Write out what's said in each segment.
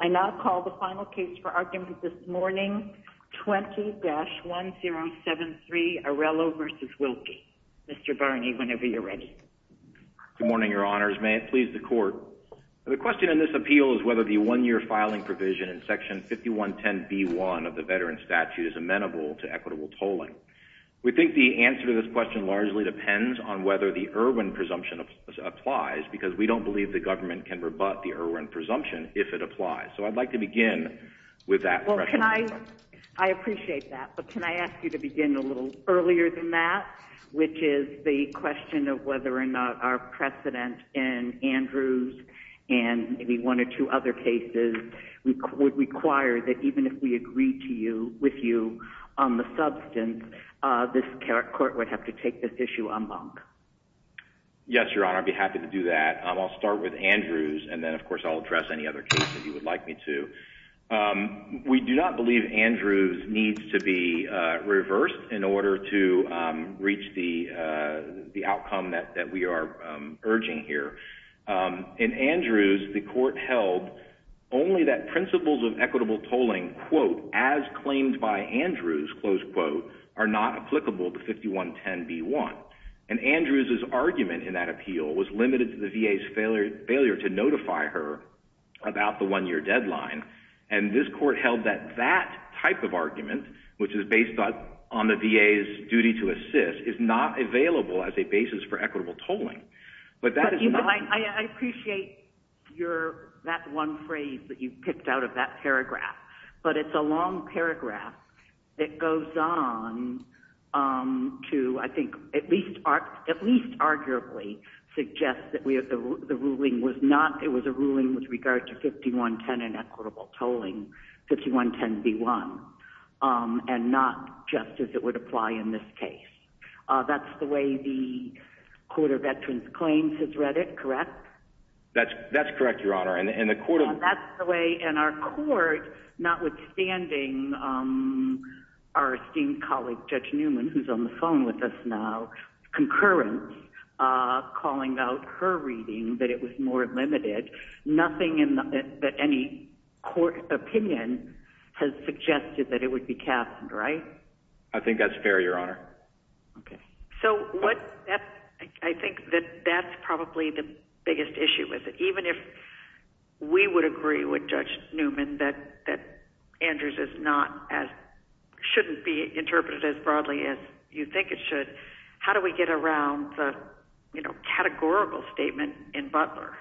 I now call the final case for argument this morning, 20-1073 Arellano v. Wilkie. Mr. Barney, whenever you're ready. Good morning, Your Honors. May it please the Court. The question in this appeal is whether the one-year filing provision in Section 5110B1 of the Veterans Statute is amenable to equitable tolling. We think the answer to this question largely depends on whether the Erwin presumption applies because we don't believe the government can rebut the Erwin presumption if it applies. So I'd like to begin with that question. I appreciate that, but can I ask you to begin a little earlier than that, which is the question of whether or not our precedent in Andrews and maybe one or two other cases would require that even if we agreed with you on the substance, this Court would have to take this issue en banc. Yes, Your Honor. I'd be happy to do that. I'll start with Andrews and then of course I'll address any other cases you would like me to. We do not believe Andrews needs to be reversed in order to reach the outcome that we are urging here. In Andrews, the Court held only that principles of equitable tolling, quote, as claimed by Andrews, close quote, are not applicable to 5110B1. And Andrews' argument in that appeal was limited to the VA's failure to notify her about the one-year deadline. And this Court held that that type of argument, which is based on the VA's duty to assist, is not available as a basis for equitable tolling. I appreciate that one phrase that you picked out of that paragraph. But it's a long paragraph that goes on to, I think, at least arguably, suggest that it was a ruling with regard to 5110 and equitable tolling, 5110B1, and not just as it would apply in this case. That's the way the Court of Veterans Claims has read it, correct? That's correct, Your Honor. That's the way in our court, notwithstanding our esteemed colleague Judge Newman, who's on the phone with us now, concurrent, calling out her reading that it was more limited, nothing in any court opinion has suggested that it would be capped, right? I think that's fair, Your Honor. Okay. So I think that that's probably the biggest issue with it. We would agree with Judge Newman that Andrews shouldn't be interpreted as broadly as you think it should. How do we get around the categorical statement in Butler?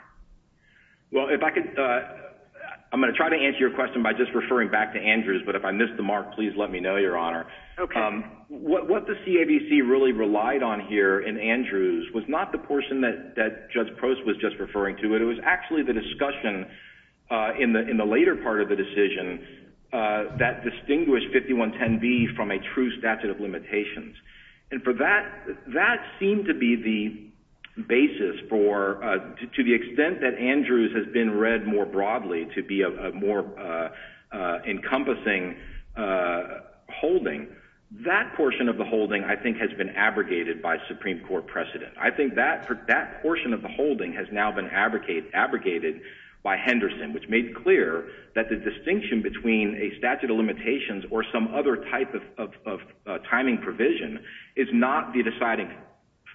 Well, I'm going to try to answer your question by just referring back to Andrews, but if I missed the mark, please let me know, Your Honor. Okay. What the CAVC really relied on here in Andrews was not the portion that Judge Post was just referring to. It was actually the discussion in the later part of the decision that distinguished 5110B from a true statute of limitations. And for that, that seemed to be the basis for, to the extent that Andrews has been read more broadly to be a more encompassing holding. That portion of the holding, I think, has been abrogated by Supreme Court precedent. I think that portion of the holding has now been abrogated by Henderson, which made clear that the distinction between a statute of limitations or some other type of timing provision is not the deciding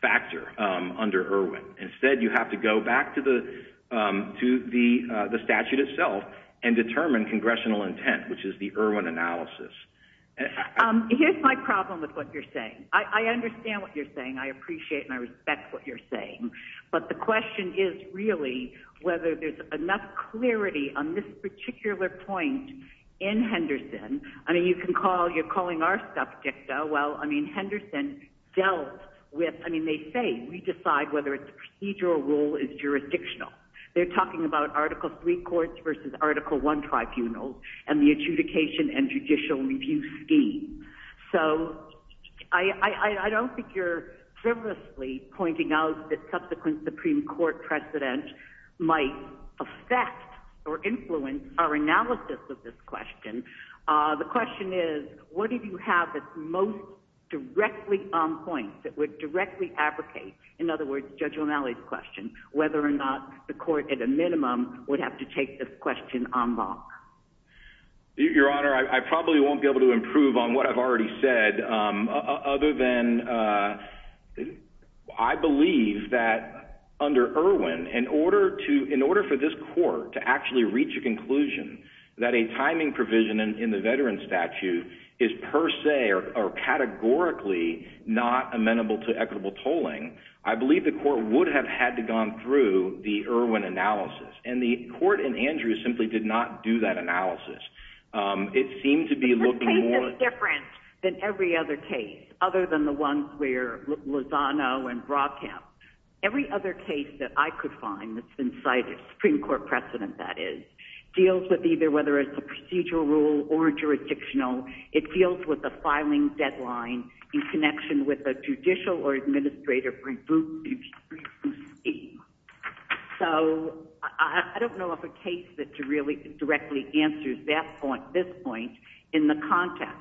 factor under Irwin. Instead, you have to go back to the statute itself and determine congressional intent, which is the Irwin analysis. Here's my problem with what you're saying. I understand what you're saying. I appreciate and I respect what you're saying. But the question is really whether there's enough clarity on this particular point in Henderson. I mean, you can call, you're calling our subject, though. Well, I mean, Henderson dealt with, I mean, they say we decide whether a procedural rule is jurisdictional. They're talking about Article III courts versus Article I tribunals and the adjudication and judicial review scheme. So I don't think you're frivolously pointing out that subsequent Supreme Court precedent might affect or influence our analysis of this question. The question is, what did you have that's most directly on point that would directly abrogate, in other words, Judge O'Malley's question, whether or not the court at a minimum would have to take this question en banc? Your Honor, I probably won't be able to improve on what I've already said other than I believe that under Irwin, in order for this court to actually reach a conclusion that a timing provision in the veteran statute is per se or categorically not amenable to equitable tolling, I believe the court would have had to gone through the Irwin analysis. And the court in Andrews simply did not do that analysis. It seemed to be looking more— This case is different than every other case, other than the ones where Lozano and Brockham. Every other case that I could find that's been cited, Supreme Court precedent, that is, deals with either whether it's a procedural rule or jurisdictional. It deals with the filing deadline in connection with a judicial or administrative review scheme. So I don't know of a case that really directly answers that point, this point, in the context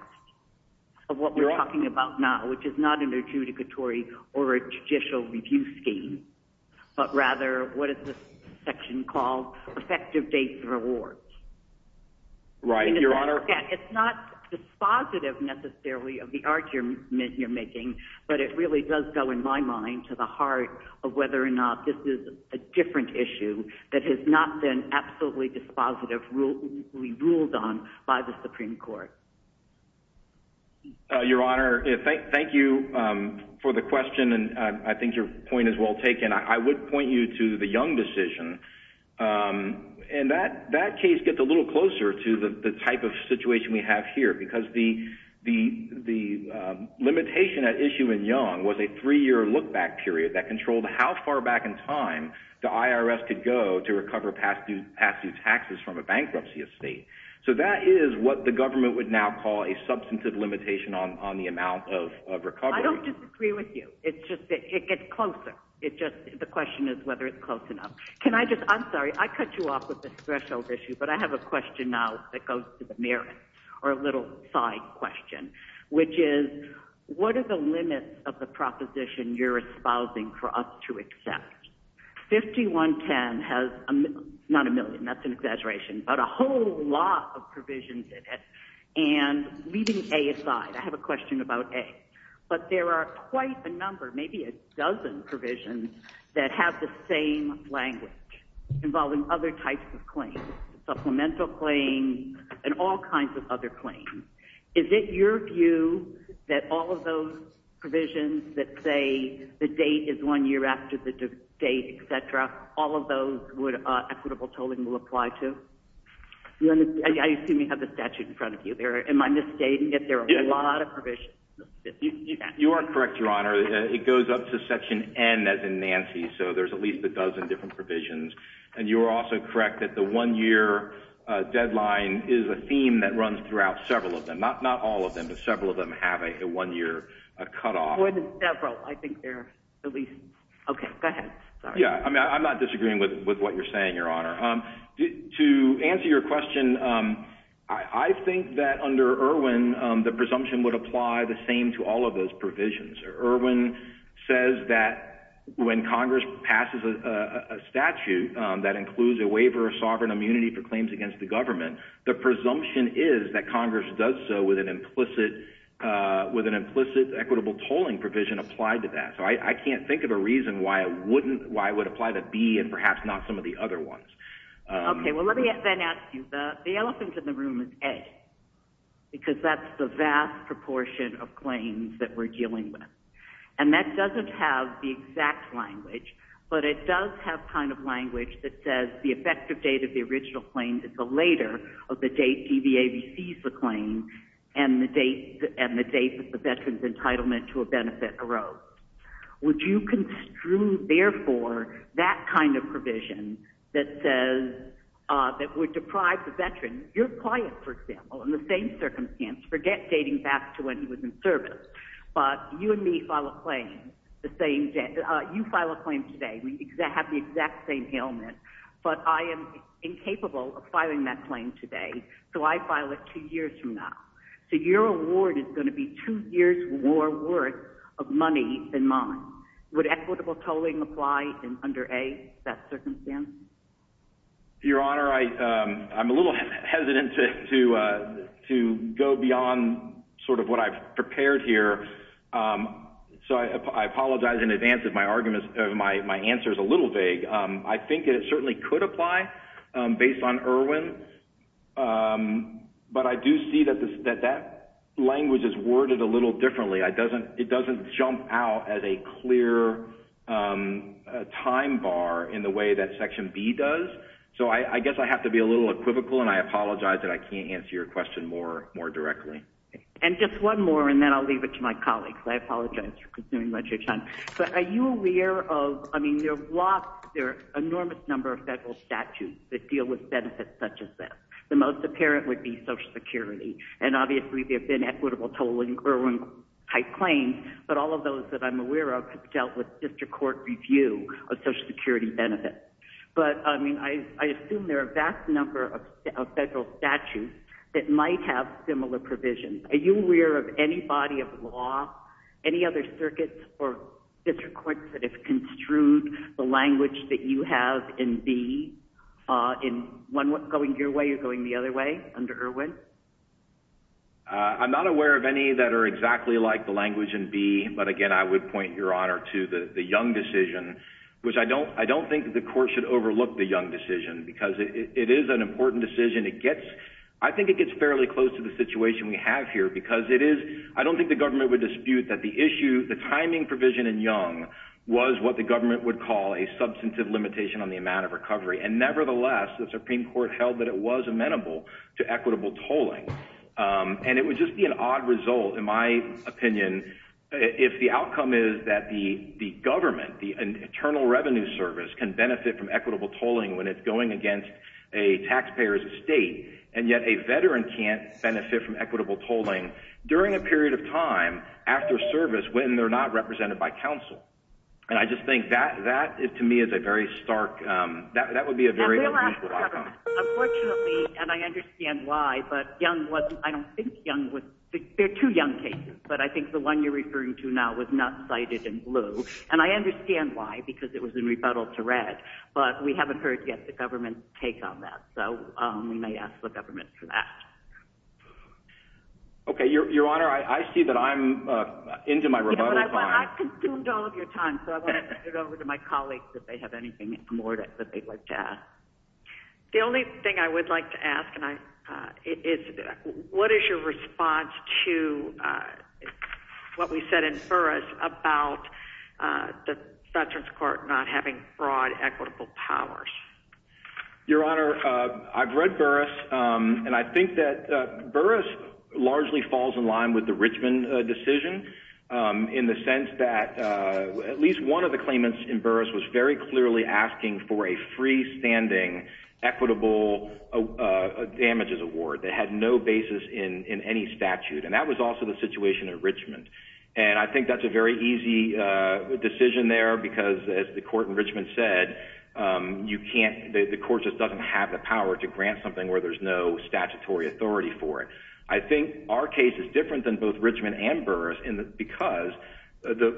of what we're talking about now, which is not an adjudicatory or a judicial review scheme, but rather what is this section called? Effective dates of awards. Right. Your Honor— It's not dispositive necessarily of the argument you're making, but it really does go, in my mind, to the heart of whether or not this is a different issue that has not been absolutely dispositively ruled on by the Supreme Court. Your Honor, thank you for the question, and I think your point is well taken. I would point you to the Young decision, and that case gets a little closer to the type of situation we have here because the limitation at issue in Young was a three-year look-back period that controlled how far back in time the IRS could go to recover past-due taxes from a bankruptcy estate. So that is what the government would now call a substantive limitation on the amount of recovery. I don't disagree with you. It's just that it gets closer. The question is whether it's close enough. Can I just—I'm sorry, I cut you off with this threshold issue, but I have a question now that goes to the merits or a little side question, which is what are the limits of the proposition you're espousing for us to accept? 5110 has—not a million, that's an exaggeration, but a whole lot of provisions in it. And leaving A aside, I have a question about A. But there are quite a number, maybe a dozen provisions that have the same language involving other types of claims, supplemental claims and all kinds of other claims. Is it your view that all of those provisions that say the date is one year after the date, et cetera, all of those would—equitable tolling will apply to? I assume you have the statute in front of you there. Am I misstating it? There are a lot of provisions. You are correct, Your Honor. It goes up to Section N as in Nancy, so there's at least a dozen different provisions. And you are also correct that the one-year deadline is a theme that runs throughout several of them, not all of them, but several of them have a one-year cutoff. More than several, I think there are at least—okay, go ahead. I'm not disagreeing with what you're saying, Your Honor. To answer your question, I think that under Irwin the presumption would apply the same to all of those provisions. Irwin says that when Congress passes a statute that includes a waiver of sovereign immunity for claims against the government, the presumption is that Congress does so with an implicit equitable tolling provision applied to that. So I can't think of a reason why it wouldn't—why it would apply to B and perhaps not some of the other ones. Okay. Well, let me then ask you. The elephant in the room is A because that's the vast proportion of claims that we're dealing with. And that doesn't have the exact language, but it does have kind of language that says the effective date of the original claim is the later of the date EVA receives the claim and the date that the veteran's entitlement to a benefit arose. Would you construe, therefore, that kind of provision that says—that would deprive the veteran— you're quiet, for example, in the same circumstance. Forget dating back to when he was in service. But you and me file a claim the same—you file a claim today. We have the exact same ailment. But I am incapable of filing that claim today, so I file it two years from now. So your award is going to be two years more worth of money than mine. Would equitable tolling apply under A, that circumstance? Your Honor, I'm a little hesitant to go beyond sort of what I've prepared here. So I apologize in advance if my answer is a little vague. I think it certainly could apply based on Erwin. But I do see that that language is worded a little differently. It doesn't jump out as a clear time bar in the way that Section B does. So I guess I have to be a little equivocal, and I apologize that I can't answer your question more directly. And just one more, and then I'll leave it to my colleagues. I apologize for consuming much of your time. But are you aware of—I mean, there are lots— there are an enormous number of federal statutes that deal with benefits such as this. The most apparent would be Social Security. And obviously there have been equitable tolling Erwin-type claims, but all of those that I'm aware of have dealt with district court review of Social Security benefits. But, I mean, I assume there are a vast number of federal statutes that might have similar provisions. Are you aware of any body of law, any other circuits or district courts, that have construed the language that you have in B going your way or going the other way under Erwin? I'm not aware of any that are exactly like the language in B. But, again, I would point, Your Honor, to the Young decision, which I don't think the court should overlook the Young decision because it is an important decision. It gets—I think it gets fairly close to the situation we have here because it is— I don't think the government would dispute that the issue, the timing provision in Young, was what the government would call a substantive limitation on the amount of recovery. And, nevertheless, the Supreme Court held that it was amenable to equitable tolling. And it would just be an odd result, in my opinion, if the outcome is that the government, the Internal Revenue Service, can benefit from equitable tolling when it's going against a taxpayer's estate, and yet a veteran can't benefit from equitable tolling during a period of time after service when they're not represented by counsel. And I just think that, to me, is a very stark—that would be a very unusual outcome. Unfortunately, and I understand why, but Young was—I don't think Young was— they're two Young cases, but I think the one you're referring to now was not cited in blue. And I understand why, because it was in rebuttal to Red. But we haven't heard yet the government's take on that. So we may ask the government for that. Okay. Your Honor, I see that I'm into my rebuttal time. I've consumed all of your time, so I want to turn it over to my colleagues if they have anything more that they'd like to ask. The only thing I would like to ask is what is your response to what we said in Burris about the Veterans Court not having broad equitable powers? Your Honor, I've read Burris, and I think that Burris largely falls in line with the Richmond decision in the sense that at least one of the claimants in Burris was very clearly asking for a freestanding equitable damages award. They had no basis in any statute. And that was also the situation in Richmond. And I think that's a very easy decision there because, as the court in Richmond said, you can't—the court just doesn't have the power to grant something where there's no statutory authority for it. I think our case is different than both Richmond and Burris because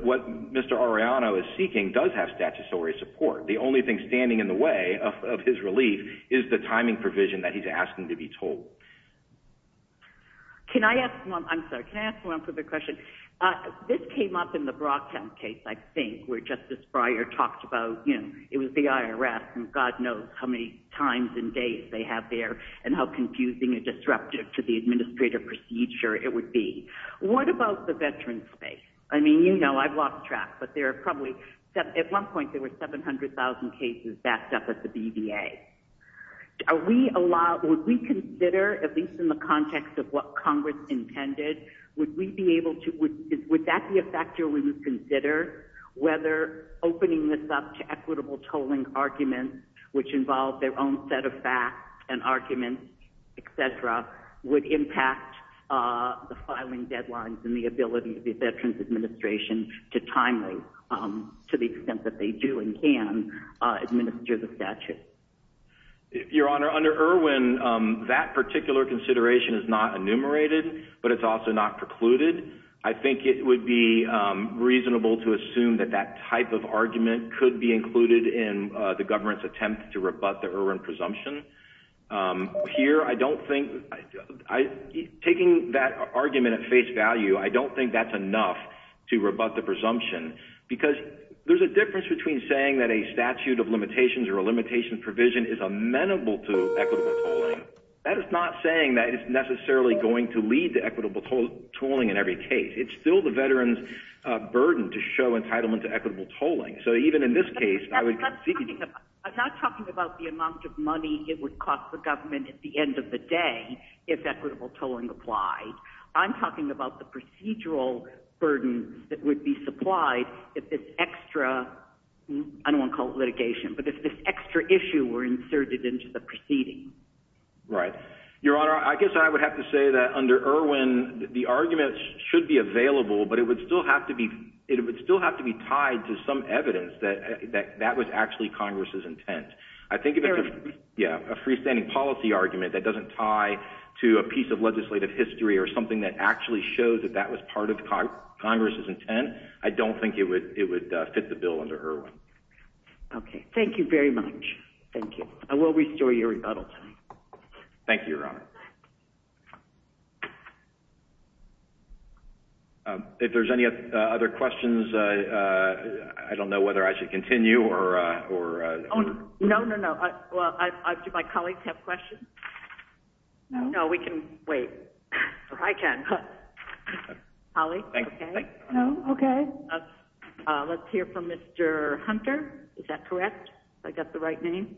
what Mr. Arellano is seeking does have statutory support. The only thing standing in the way of his relief is the timing provision that he's asking to be told. Can I ask one—I'm sorry, can I ask one further question? This came up in the Brocktown case, I think, where Justice Breyer talked about, you know, it was the IRS, and God knows how many times and days they have there and how confusing and disruptive to the administrative procedure it would be. What about the veteran space? I mean, you know, I've lost track, but there are probably— at one point there were 700,000 cases backed up at the BVA. Are we allowed—would we consider, at least in the context of what Congress intended, would we be able to—would that be a factor we would consider, whether opening this up to equitable tolling arguments, which involve their own set of facts and arguments, et cetera, would impact the filing deadlines and the ability of the Veterans Administration to timely, to the extent that they do and can, administer the statute? Your Honor, under Irwin, that particular consideration is not enumerated, but it's also not precluded. I think it would be reasonable to assume that that type of argument could be included in the government's attempt to rebut the Irwin presumption. Here, I don't think—taking that argument at face value, I don't think that's enough to rebut the presumption, because there's a difference between saying that a statute of limitations or a limitations provision is amenable to equitable tolling. That is not saying that it's necessarily going to lead to equitable tolling in every case. It's still the Veterans' burden to show entitlement to equitable tolling. So even in this case, I would— I'm not talking about the amount of money it would cost the government at the end of the day if equitable tolling applied. I'm talking about the procedural burden that would be supplied if this extra— I don't want to call it litigation, but if this extra issue were inserted into the proceeding. Right. Your Honor, I guess I would have to say that under Irwin, the argument should be available, but it would still have to be tied to some evidence that that was actually Congress' intent. I think if it's a freestanding policy argument that doesn't tie to a piece of legislative history or something that actually shows that that was part of Congress' intent, I don't think it would fit the bill under Irwin. Okay. Thank you very much. Thank you. Thank you, Your Honor. Thank you. If there's any other questions, I don't know whether I should continue or— No, no, no. Do my colleagues have questions? No. No, we can wait. I can. Holly? Okay. No. Okay. Let's hear from Mr. Hunter. Is that correct? Have I got the right name?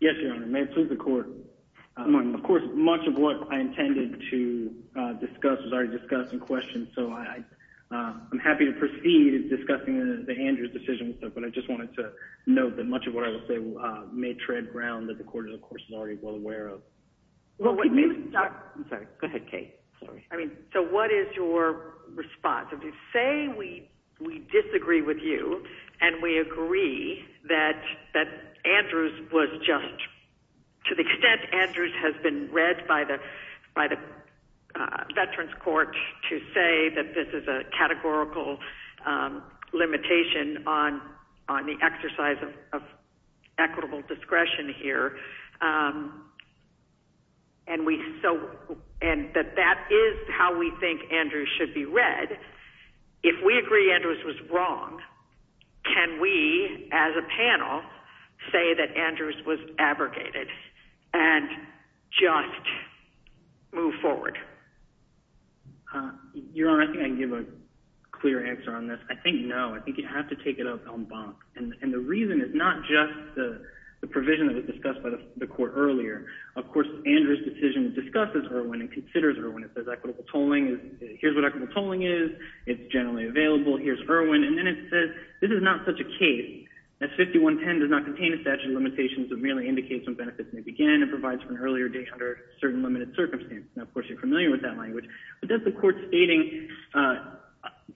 Yes, Your Honor. May it please the Court. Of course, much of what I intended to discuss was already discussed in question, so I'm happy to proceed discussing the Andrews decision, but I just wanted to note that much of what I will say may tread ground that the Court, of course, is already well aware of. Well, what you— I'm sorry. Go ahead, Kate. Sorry. I mean, so what is your response? If you say we disagree with you and we agree that Andrews was just— to the extent Andrews has been read by the Veterans Court to say that this is a categorical limitation on the exercise of equitable discretion here and that that is how we think Andrews should be read, if we agree Andrews was wrong, can we, as a panel, say that Andrews was abrogated and just move forward? Your Honor, I think I can give a clear answer on this. I think no. I think you have to take it up en banc. And the reason is not just the provision that was discussed by the Court earlier. Of course, Andrews' decision discusses Erwin and considers Erwin. It says equitable tolling is—here's what equitable tolling is. It's generally available. Here's Erwin. And then it says this is not such a case. That 5110 does not contain a statute of limitations that merely indicates when benefits may begin and provides for an earlier date under certain limited circumstances. Now, of course, you're familiar with that language. But that's the Court stating,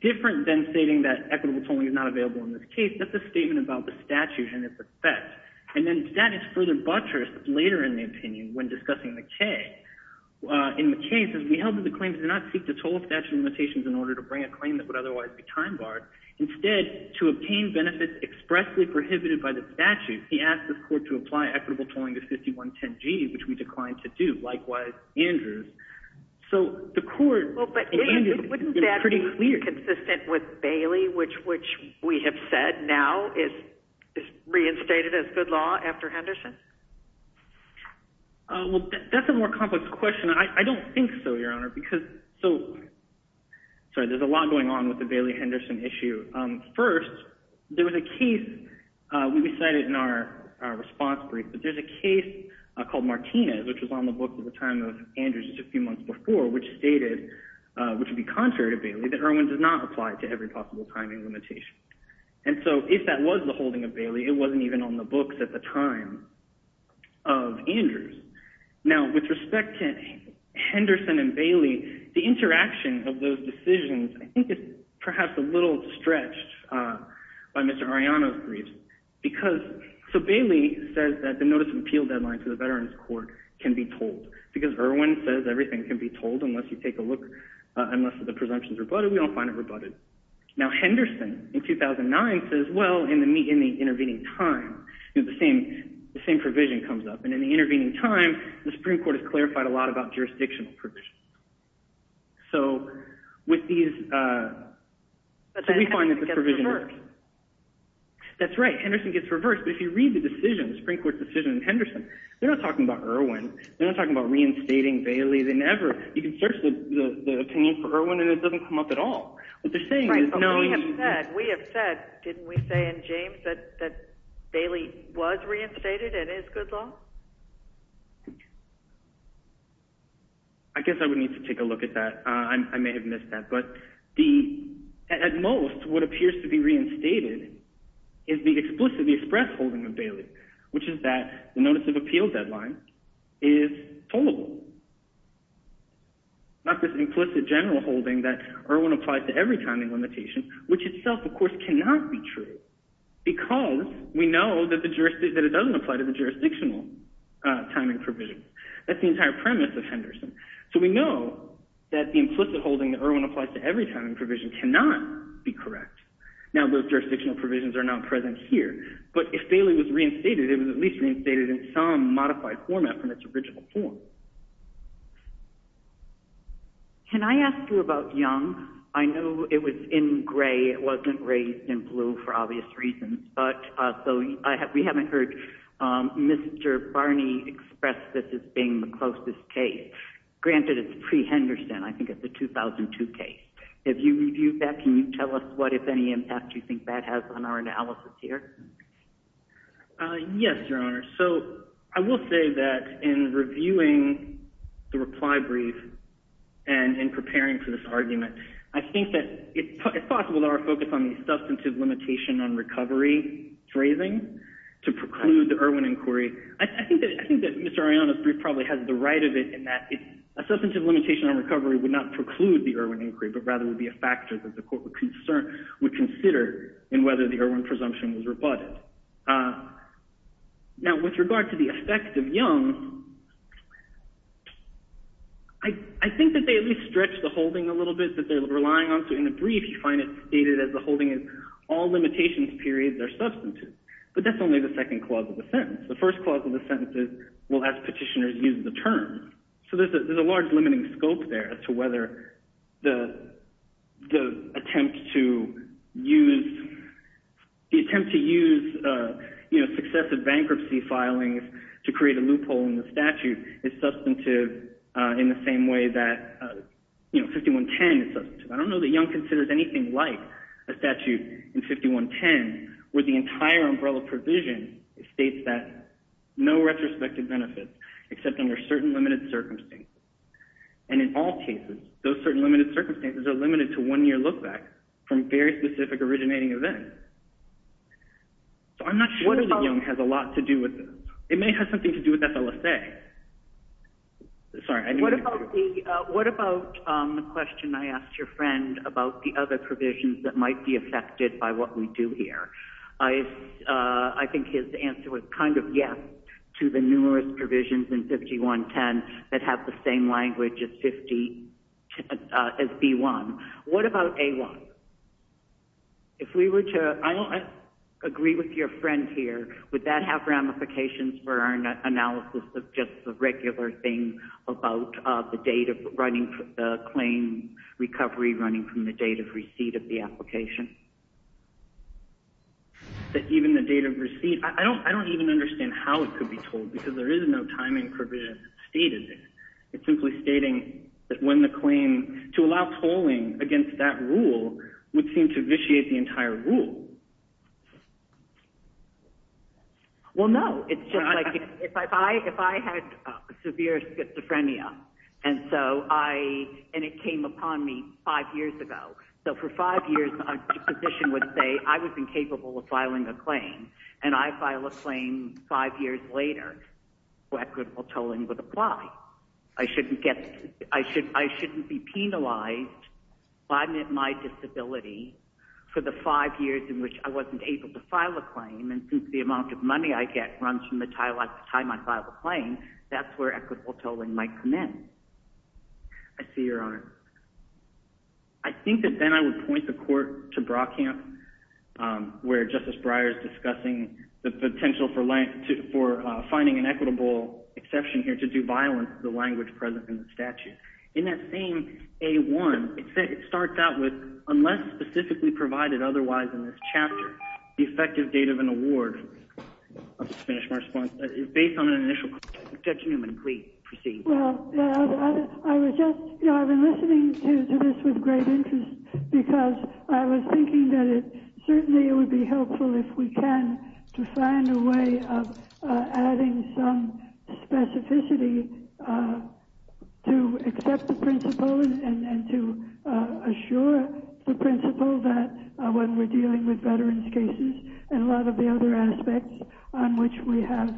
different than stating that equitable tolling is not available in this case, that's a statement about the statute and its effect. And then that is further buttressed later in the opinion when discussing McKay. In McKay, it says we held that the claim did not seek to toll a statute of limitations in order to bring a claim that would otherwise be time-barred. Instead, to obtain benefits expressly prohibited by the statute, he asked the Court to apply equitable tolling to 5110G, which we declined to do, likewise Andrews. So the Court— Well, but wouldn't that be consistent with Bailey, which we have said now is reinstated as good law after Henderson? Well, that's a more complex question. I don't think so, Your Honor, because— Sorry, there's a lot going on with the Bailey-Henderson issue. First, there was a case we cited in our response brief, but there's a case called Martinez, which was on the book at the time of Andrews just a few months before, which stated, which would be contrary to Bailey, that Irwin did not apply to every possible time and limitation. And so if that was the holding of Bailey, it wasn't even on the books at the time of Andrews. Now, with respect to Henderson and Bailey, the interaction of those decisions, I think it's perhaps a little stretched by Mr. Arellano's brief. So Bailey says that the notice of appeal deadline to the Veterans Court can be tolled because Irwin says everything can be told unless you take a look, unless the presumption is rebutted. We don't find it rebutted. Now, Henderson in 2009 says, well, in the intervening time, the same provision comes up. And in the intervening time, the Supreme Court has clarified a lot about jurisdictional provisions. So with these— But Henderson gets reversed. That's right. Henderson gets reversed. But if you read the decision, the Supreme Court decision in Henderson, they're not talking about Irwin. They're not talking about reinstating Bailey. You can search the opinion for Irwin, and it doesn't come up at all. What they're saying is— We have said, didn't we say in James that Bailey was reinstated and is good law? I guess I would need to take a look at that. I may have missed that. But at most, what appears to be reinstated is the express holding of Bailey, which is that the notice of appeal deadline is tollable. Not this implicit general holding that Irwin applies to every timing limitation, which itself, of course, cannot be true, because we know that it doesn't apply to the jurisdictional timing provision. That's the entire premise of Henderson. So we know that the implicit holding that Irwin applies to every timing provision cannot be correct. Now, those jurisdictional provisions are not present here. But if Bailey was reinstated, it was at least reinstated in some modified format from its original form. Can I ask you about Young? I know it was in gray. It wasn't raised in blue for obvious reasons. So we haven't heard Mr. Barney express this as being the closest case. Granted, it's pre-Henderson. I think it's a 2002 case. Have you reviewed that? Can you tell us what, if any, impact you think that has on our analysis here? Yes, Your Honor. So I will say that in reviewing the reply brief and in preparing for this argument, I think that it's possible that our focus on the substantive limitation on recovery is raising to preclude the Irwin inquiry. I think that Mr. Arellano's brief probably has the right of it in that a substantive limitation on recovery would not preclude the Irwin inquiry, but rather would be a factor that the court would consider in whether the Irwin presumption was rebutted. Now, with regard to the effect of Young, I think that they at least stretch the holding a little bit that they're relying on. So in the brief, you find it stated as the holding is all limitations periods are substantive. But that's only the second clause of the sentence. The first clause of the sentence is, well, as petitioners use the term. So there's a large limiting scope there as to whether the attempt to use successive bankruptcy filings to create a loophole in the statute is substantive in the same way that 5110 is substantive. I don't know that Young considers anything like a statute in 5110 where the entire umbrella provision states that no retrospective benefits except under certain limited circumstances. And in all cases, those certain limited circumstances are limited to one year look back from very specific originating events. So I'm not sure that Young has a lot to do with this. It may have something to do with FLSA. Sorry. What about the question I asked your friend about the other provisions that might be affected by what we do here? I think his answer was kind of yes to the numerous provisions in 5110, that have the same language as 50, as B1. What about A1? If we were to agree with your friend here, would that have ramifications for our analysis of just the regular thing about the date of running the claim recovery running from the date of receipt of the application? Even the date of receipt. I don't even understand how it could be told because there is no time provision stated. It's simply stating that when the claim to allow polling against that rule would seem to vitiate the entire rule. Well, no, it's just like if I, if I had severe schizophrenia. And so I, and it came upon me five years ago. So for five years, a physician would say I was incapable of filing a claim and I file a claim five years later where equitable tolling would apply. I shouldn't get, I shouldn't, I shouldn't be penalized if I'm at my disability for the five years in which I wasn't able to file a claim. And since the amount of money I get runs from the time I file a claim, that's where equitable tolling might come in. I see your arm. I think that then I would point the court to Brockham where justice Breyer's discussing the potential for length to, for finding an equitable exception here to do violence, the language present in the statute. In that same a one, it said, it starts out with unless specifically provided otherwise in this chapter, the effective date of an award. I'll just finish my response based on an initial judgment. Please proceed. I was just, you know, I've been listening to this with great interest because I was thinking that it certainly would be helpful if we can to find a way of adding some specificity to accept the principles and to assure the principle that when we're dealing with veterans cases and a lot of the other aspects on which we have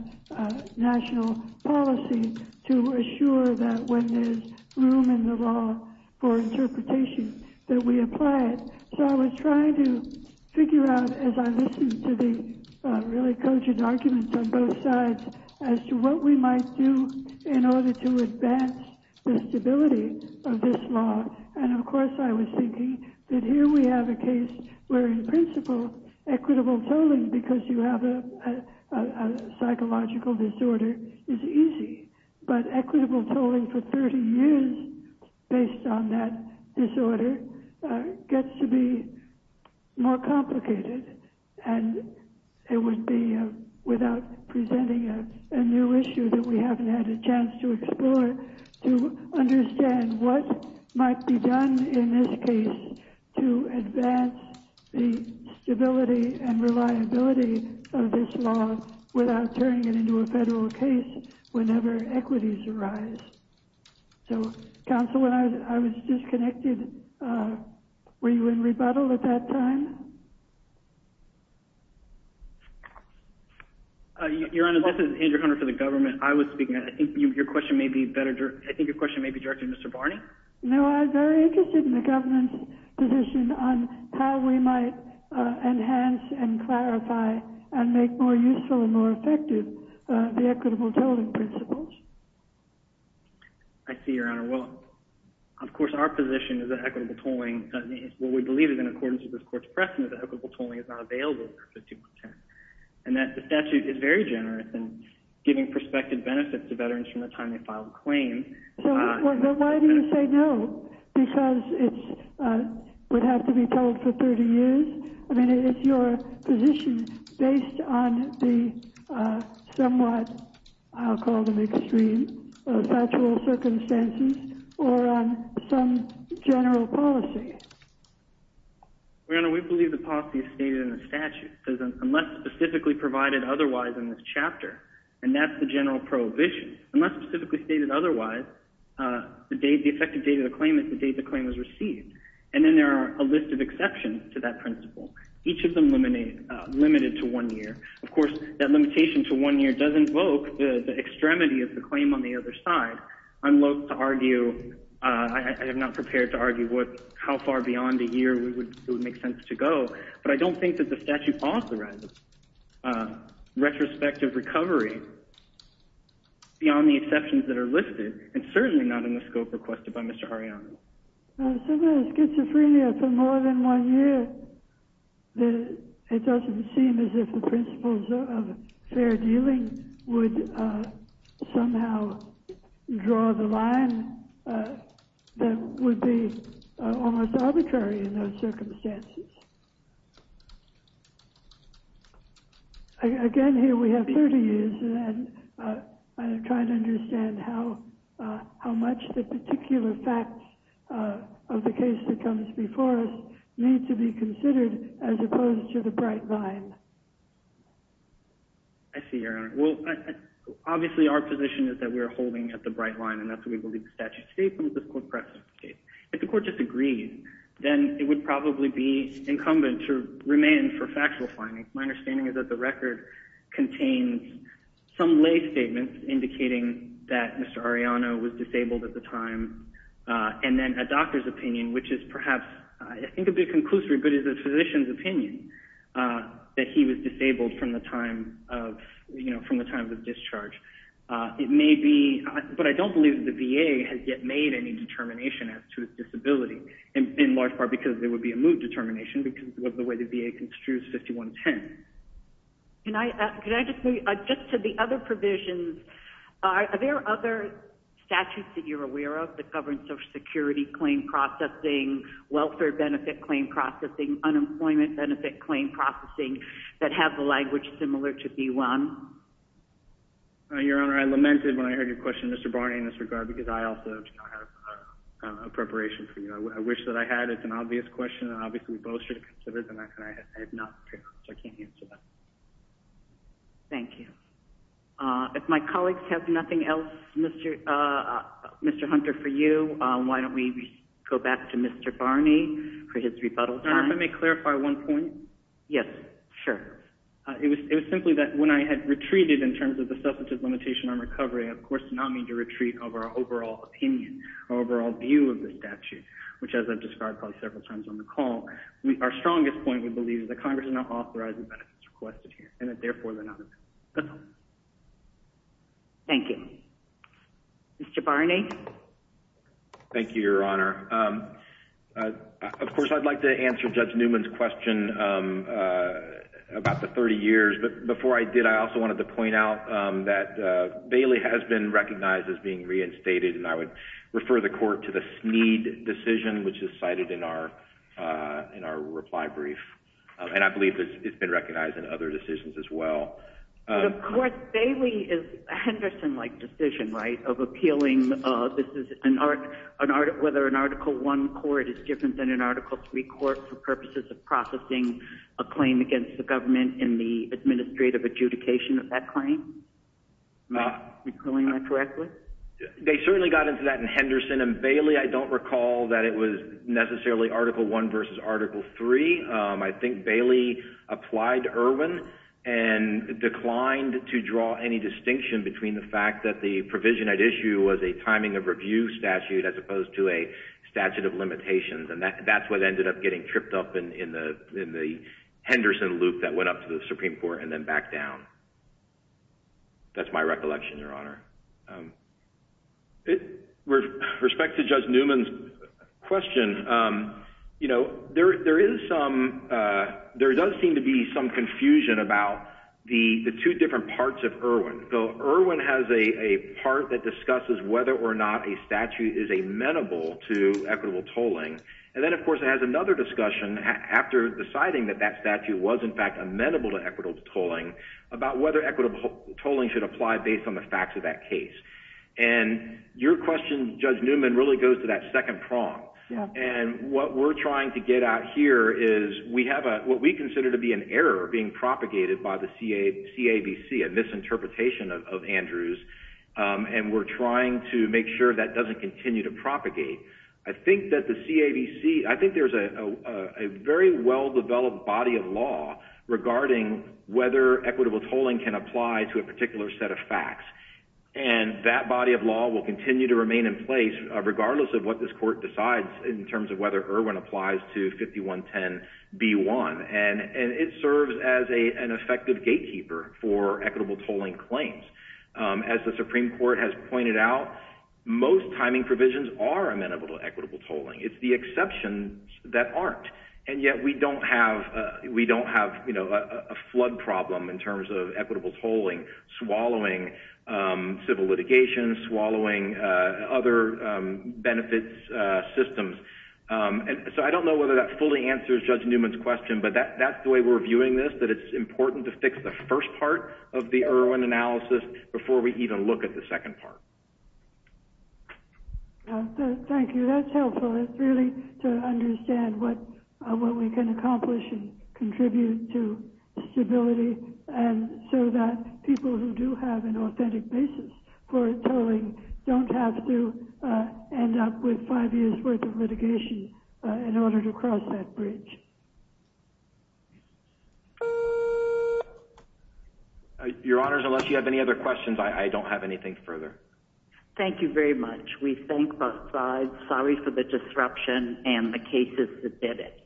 national policy to assure that when there's room in the law for interpretation that we apply it. So I was trying to figure out as I listened to the really cogent arguments on both sides as to what we might do in order to advance the stability of this law. And of course I was thinking that here we have a case where in principle equitable tolling because you have a psychological disorder is easy, but equitable tolling for 30 years based on that disorder gets to be more complicated and it would be without presenting a new issue that we haven't had a chance to explore to understand what might be done in this case to advance the stability and reliability of this law without turning it into a federal case whenever equities arise. So counsel, when I was disconnected, were you in rebuttal at that time? Your Honor, this is Andrew Hunter for the government. I was speaking. I think your question may be directed to Mr. Barney. No, I'm very interested in the government's position on how we might enhance and clarify and make more useful and more effective the equitable tolling principles. I see, Your Honor. Well, of course, our position is that equitable tolling, what we believe is in accordance with this court's precedent, that equitable tolling is not available for 5110. And that statute is very generous in giving prospective benefits to veterans from the time they file a claim. But why do you say no? Because it would have to be told for 30 years? I mean, it's your position based on the somewhat, I'll call them extreme, factual circumstances or some general policy. Your Honor, we believe the policy is stated in the statute. It says unless specifically provided otherwise in this chapter, and that's the general prohibition. Unless specifically stated otherwise, the effective date of the claim is the date the claim was received. And then there are a list of exceptions to that principle, each of them limited to one year. Of course, that limitation to one year does invoke the extremity of the claim on the other side. I'm loathe to argue, I am not prepared to argue how far beyond a year it would make sense to go. But I don't think that the statute authorizes retrospective recovery beyond the exceptions that are listed, and certainly not in the scope requested by Mr. Arellano. If someone has schizophrenia for more than one year, it doesn't seem as if the principles of fair dealing would somehow draw the line that would be almost arbitrary in those circumstances. Again, here we have 30 years, and I'm trying to understand how much the particular facts of the case that comes before us need to be considered as opposed to the bright line. I see, Your Honor. Well, obviously our position is that we're holding at the bright line, and that's what we believe the statute states in this court precedent case. If the court disagrees, then it would probably be incumbent to remain for factual findings. My understanding is that the record contains some lay statements indicating that Mr. Arellano was disabled at the time, and then a doctor's opinion, which is perhaps I think a bit conclusive, but is a physician's opinion that he was disabled from the time of discharge. But I don't believe the VA has yet made any determination as to his disability, in large part because there would be a mood determination because of the way the VA construes 5110. Can I just move just to the other provisions? Are there other statutes that you're aware of that govern Social Security claim processing, welfare benefit claim processing, unemployment benefit claim processing that have the language similar to B-1? Your Honor, I lamented when I heard your question, Mr. Barney, in this regard because I also have a preparation for you. I wish that I had. It's an obvious question, and obviously we both should have considered it, and I have not prepared, so I can't answer that. Thank you. If my colleagues have nothing else, Mr. Hunter, for you, why don't we go back to Mr. Barney for his rebuttal time? Your Honor, if I may clarify one point? Yes, sure. It was simply that when I had retreated in terms of the substantive limitation on recovery, I, of course, did not mean to retreat over our overall opinion, our overall view of the statute, which, as I've already said, is not in the statute. My point, we believe, is that Congress is not authorizing benefits requested here, and that, therefore, they're not in the statute. That's all. Thank you. Mr. Barney? Thank you, Your Honor. Of course, I'd like to answer Judge Newman's question about the 30 years, but before I did, I also wanted to point out that Bailey has been recognized as being reinstated, and I would refer the Court to the Sneed decision, which is cited in our reply brief, and I believe it's been recognized in other decisions as well. But, of course, Bailey is a Henderson-like decision, right, of appealing whether an Article I court is different than an Article III court for purposes of processing a claim against the government in the administrative adjudication of that claim? Am I pulling that correctly? They certainly got into that in Henderson, and Bailey, I don't recall that it was necessarily Article I versus Article III. I think Bailey applied to Irwin and declined to draw any distinction between the fact that the provision at issue was a timing of review statute as opposed to a statute of limitations, and that's what ended up getting tripped up in the Henderson loop that went up to the Supreme Court and then back down. That's my recollection, Your Honor. With respect to Judge Newman's question, you know, there is some there does seem to be some confusion about the two different parts of Irwin. Irwin has a part that discusses whether or not a statute is amenable to equitable tolling, and then, of course, it has another discussion after deciding that that statute was, in fact, amenable to equitable tolling, about whether equitable tolling should apply based on the facts of that case. And your question, Judge Newman, really goes to that second prong, and what we're trying to get at here is we have what we consider to be an error being propagated by the CABC, a misinterpretation of Andrew's, and we're trying to make sure that doesn't continue to propagate. I think that the CABC I think there's a very well-developed body of law regarding whether equitable tolling can apply to a particular set of facts, and that body of law will continue to remain in place regardless of what this Court decides in terms of whether Irwin applies to 5110B1, and it serves as an effective gatekeeper for equitable tolling claims. As the Supreme Court has pointed out, most timing provisions are amenable to equitable tolling. It's the exceptions that aren't. And yet we don't have a flood problem in terms of equitable tolling swallowing civil litigation, swallowing other benefits systems. So I don't know whether that fully answers Judge Newman's question, but that's the way we're viewing this, that it's important to fix the first part of the Irwin analysis before we even look at the second part. Thank you. That's helpful. It's really to understand what we can accomplish and contribute to stability and so that people who do have an authentic basis for tolling don't have to end up with five years' worth of litigation in order to cross that bridge. Your Honors, unless you have any other questions, I don't have anything further. Thank you very much. We thank both sides. Sorry for the disruption and the cases that did it.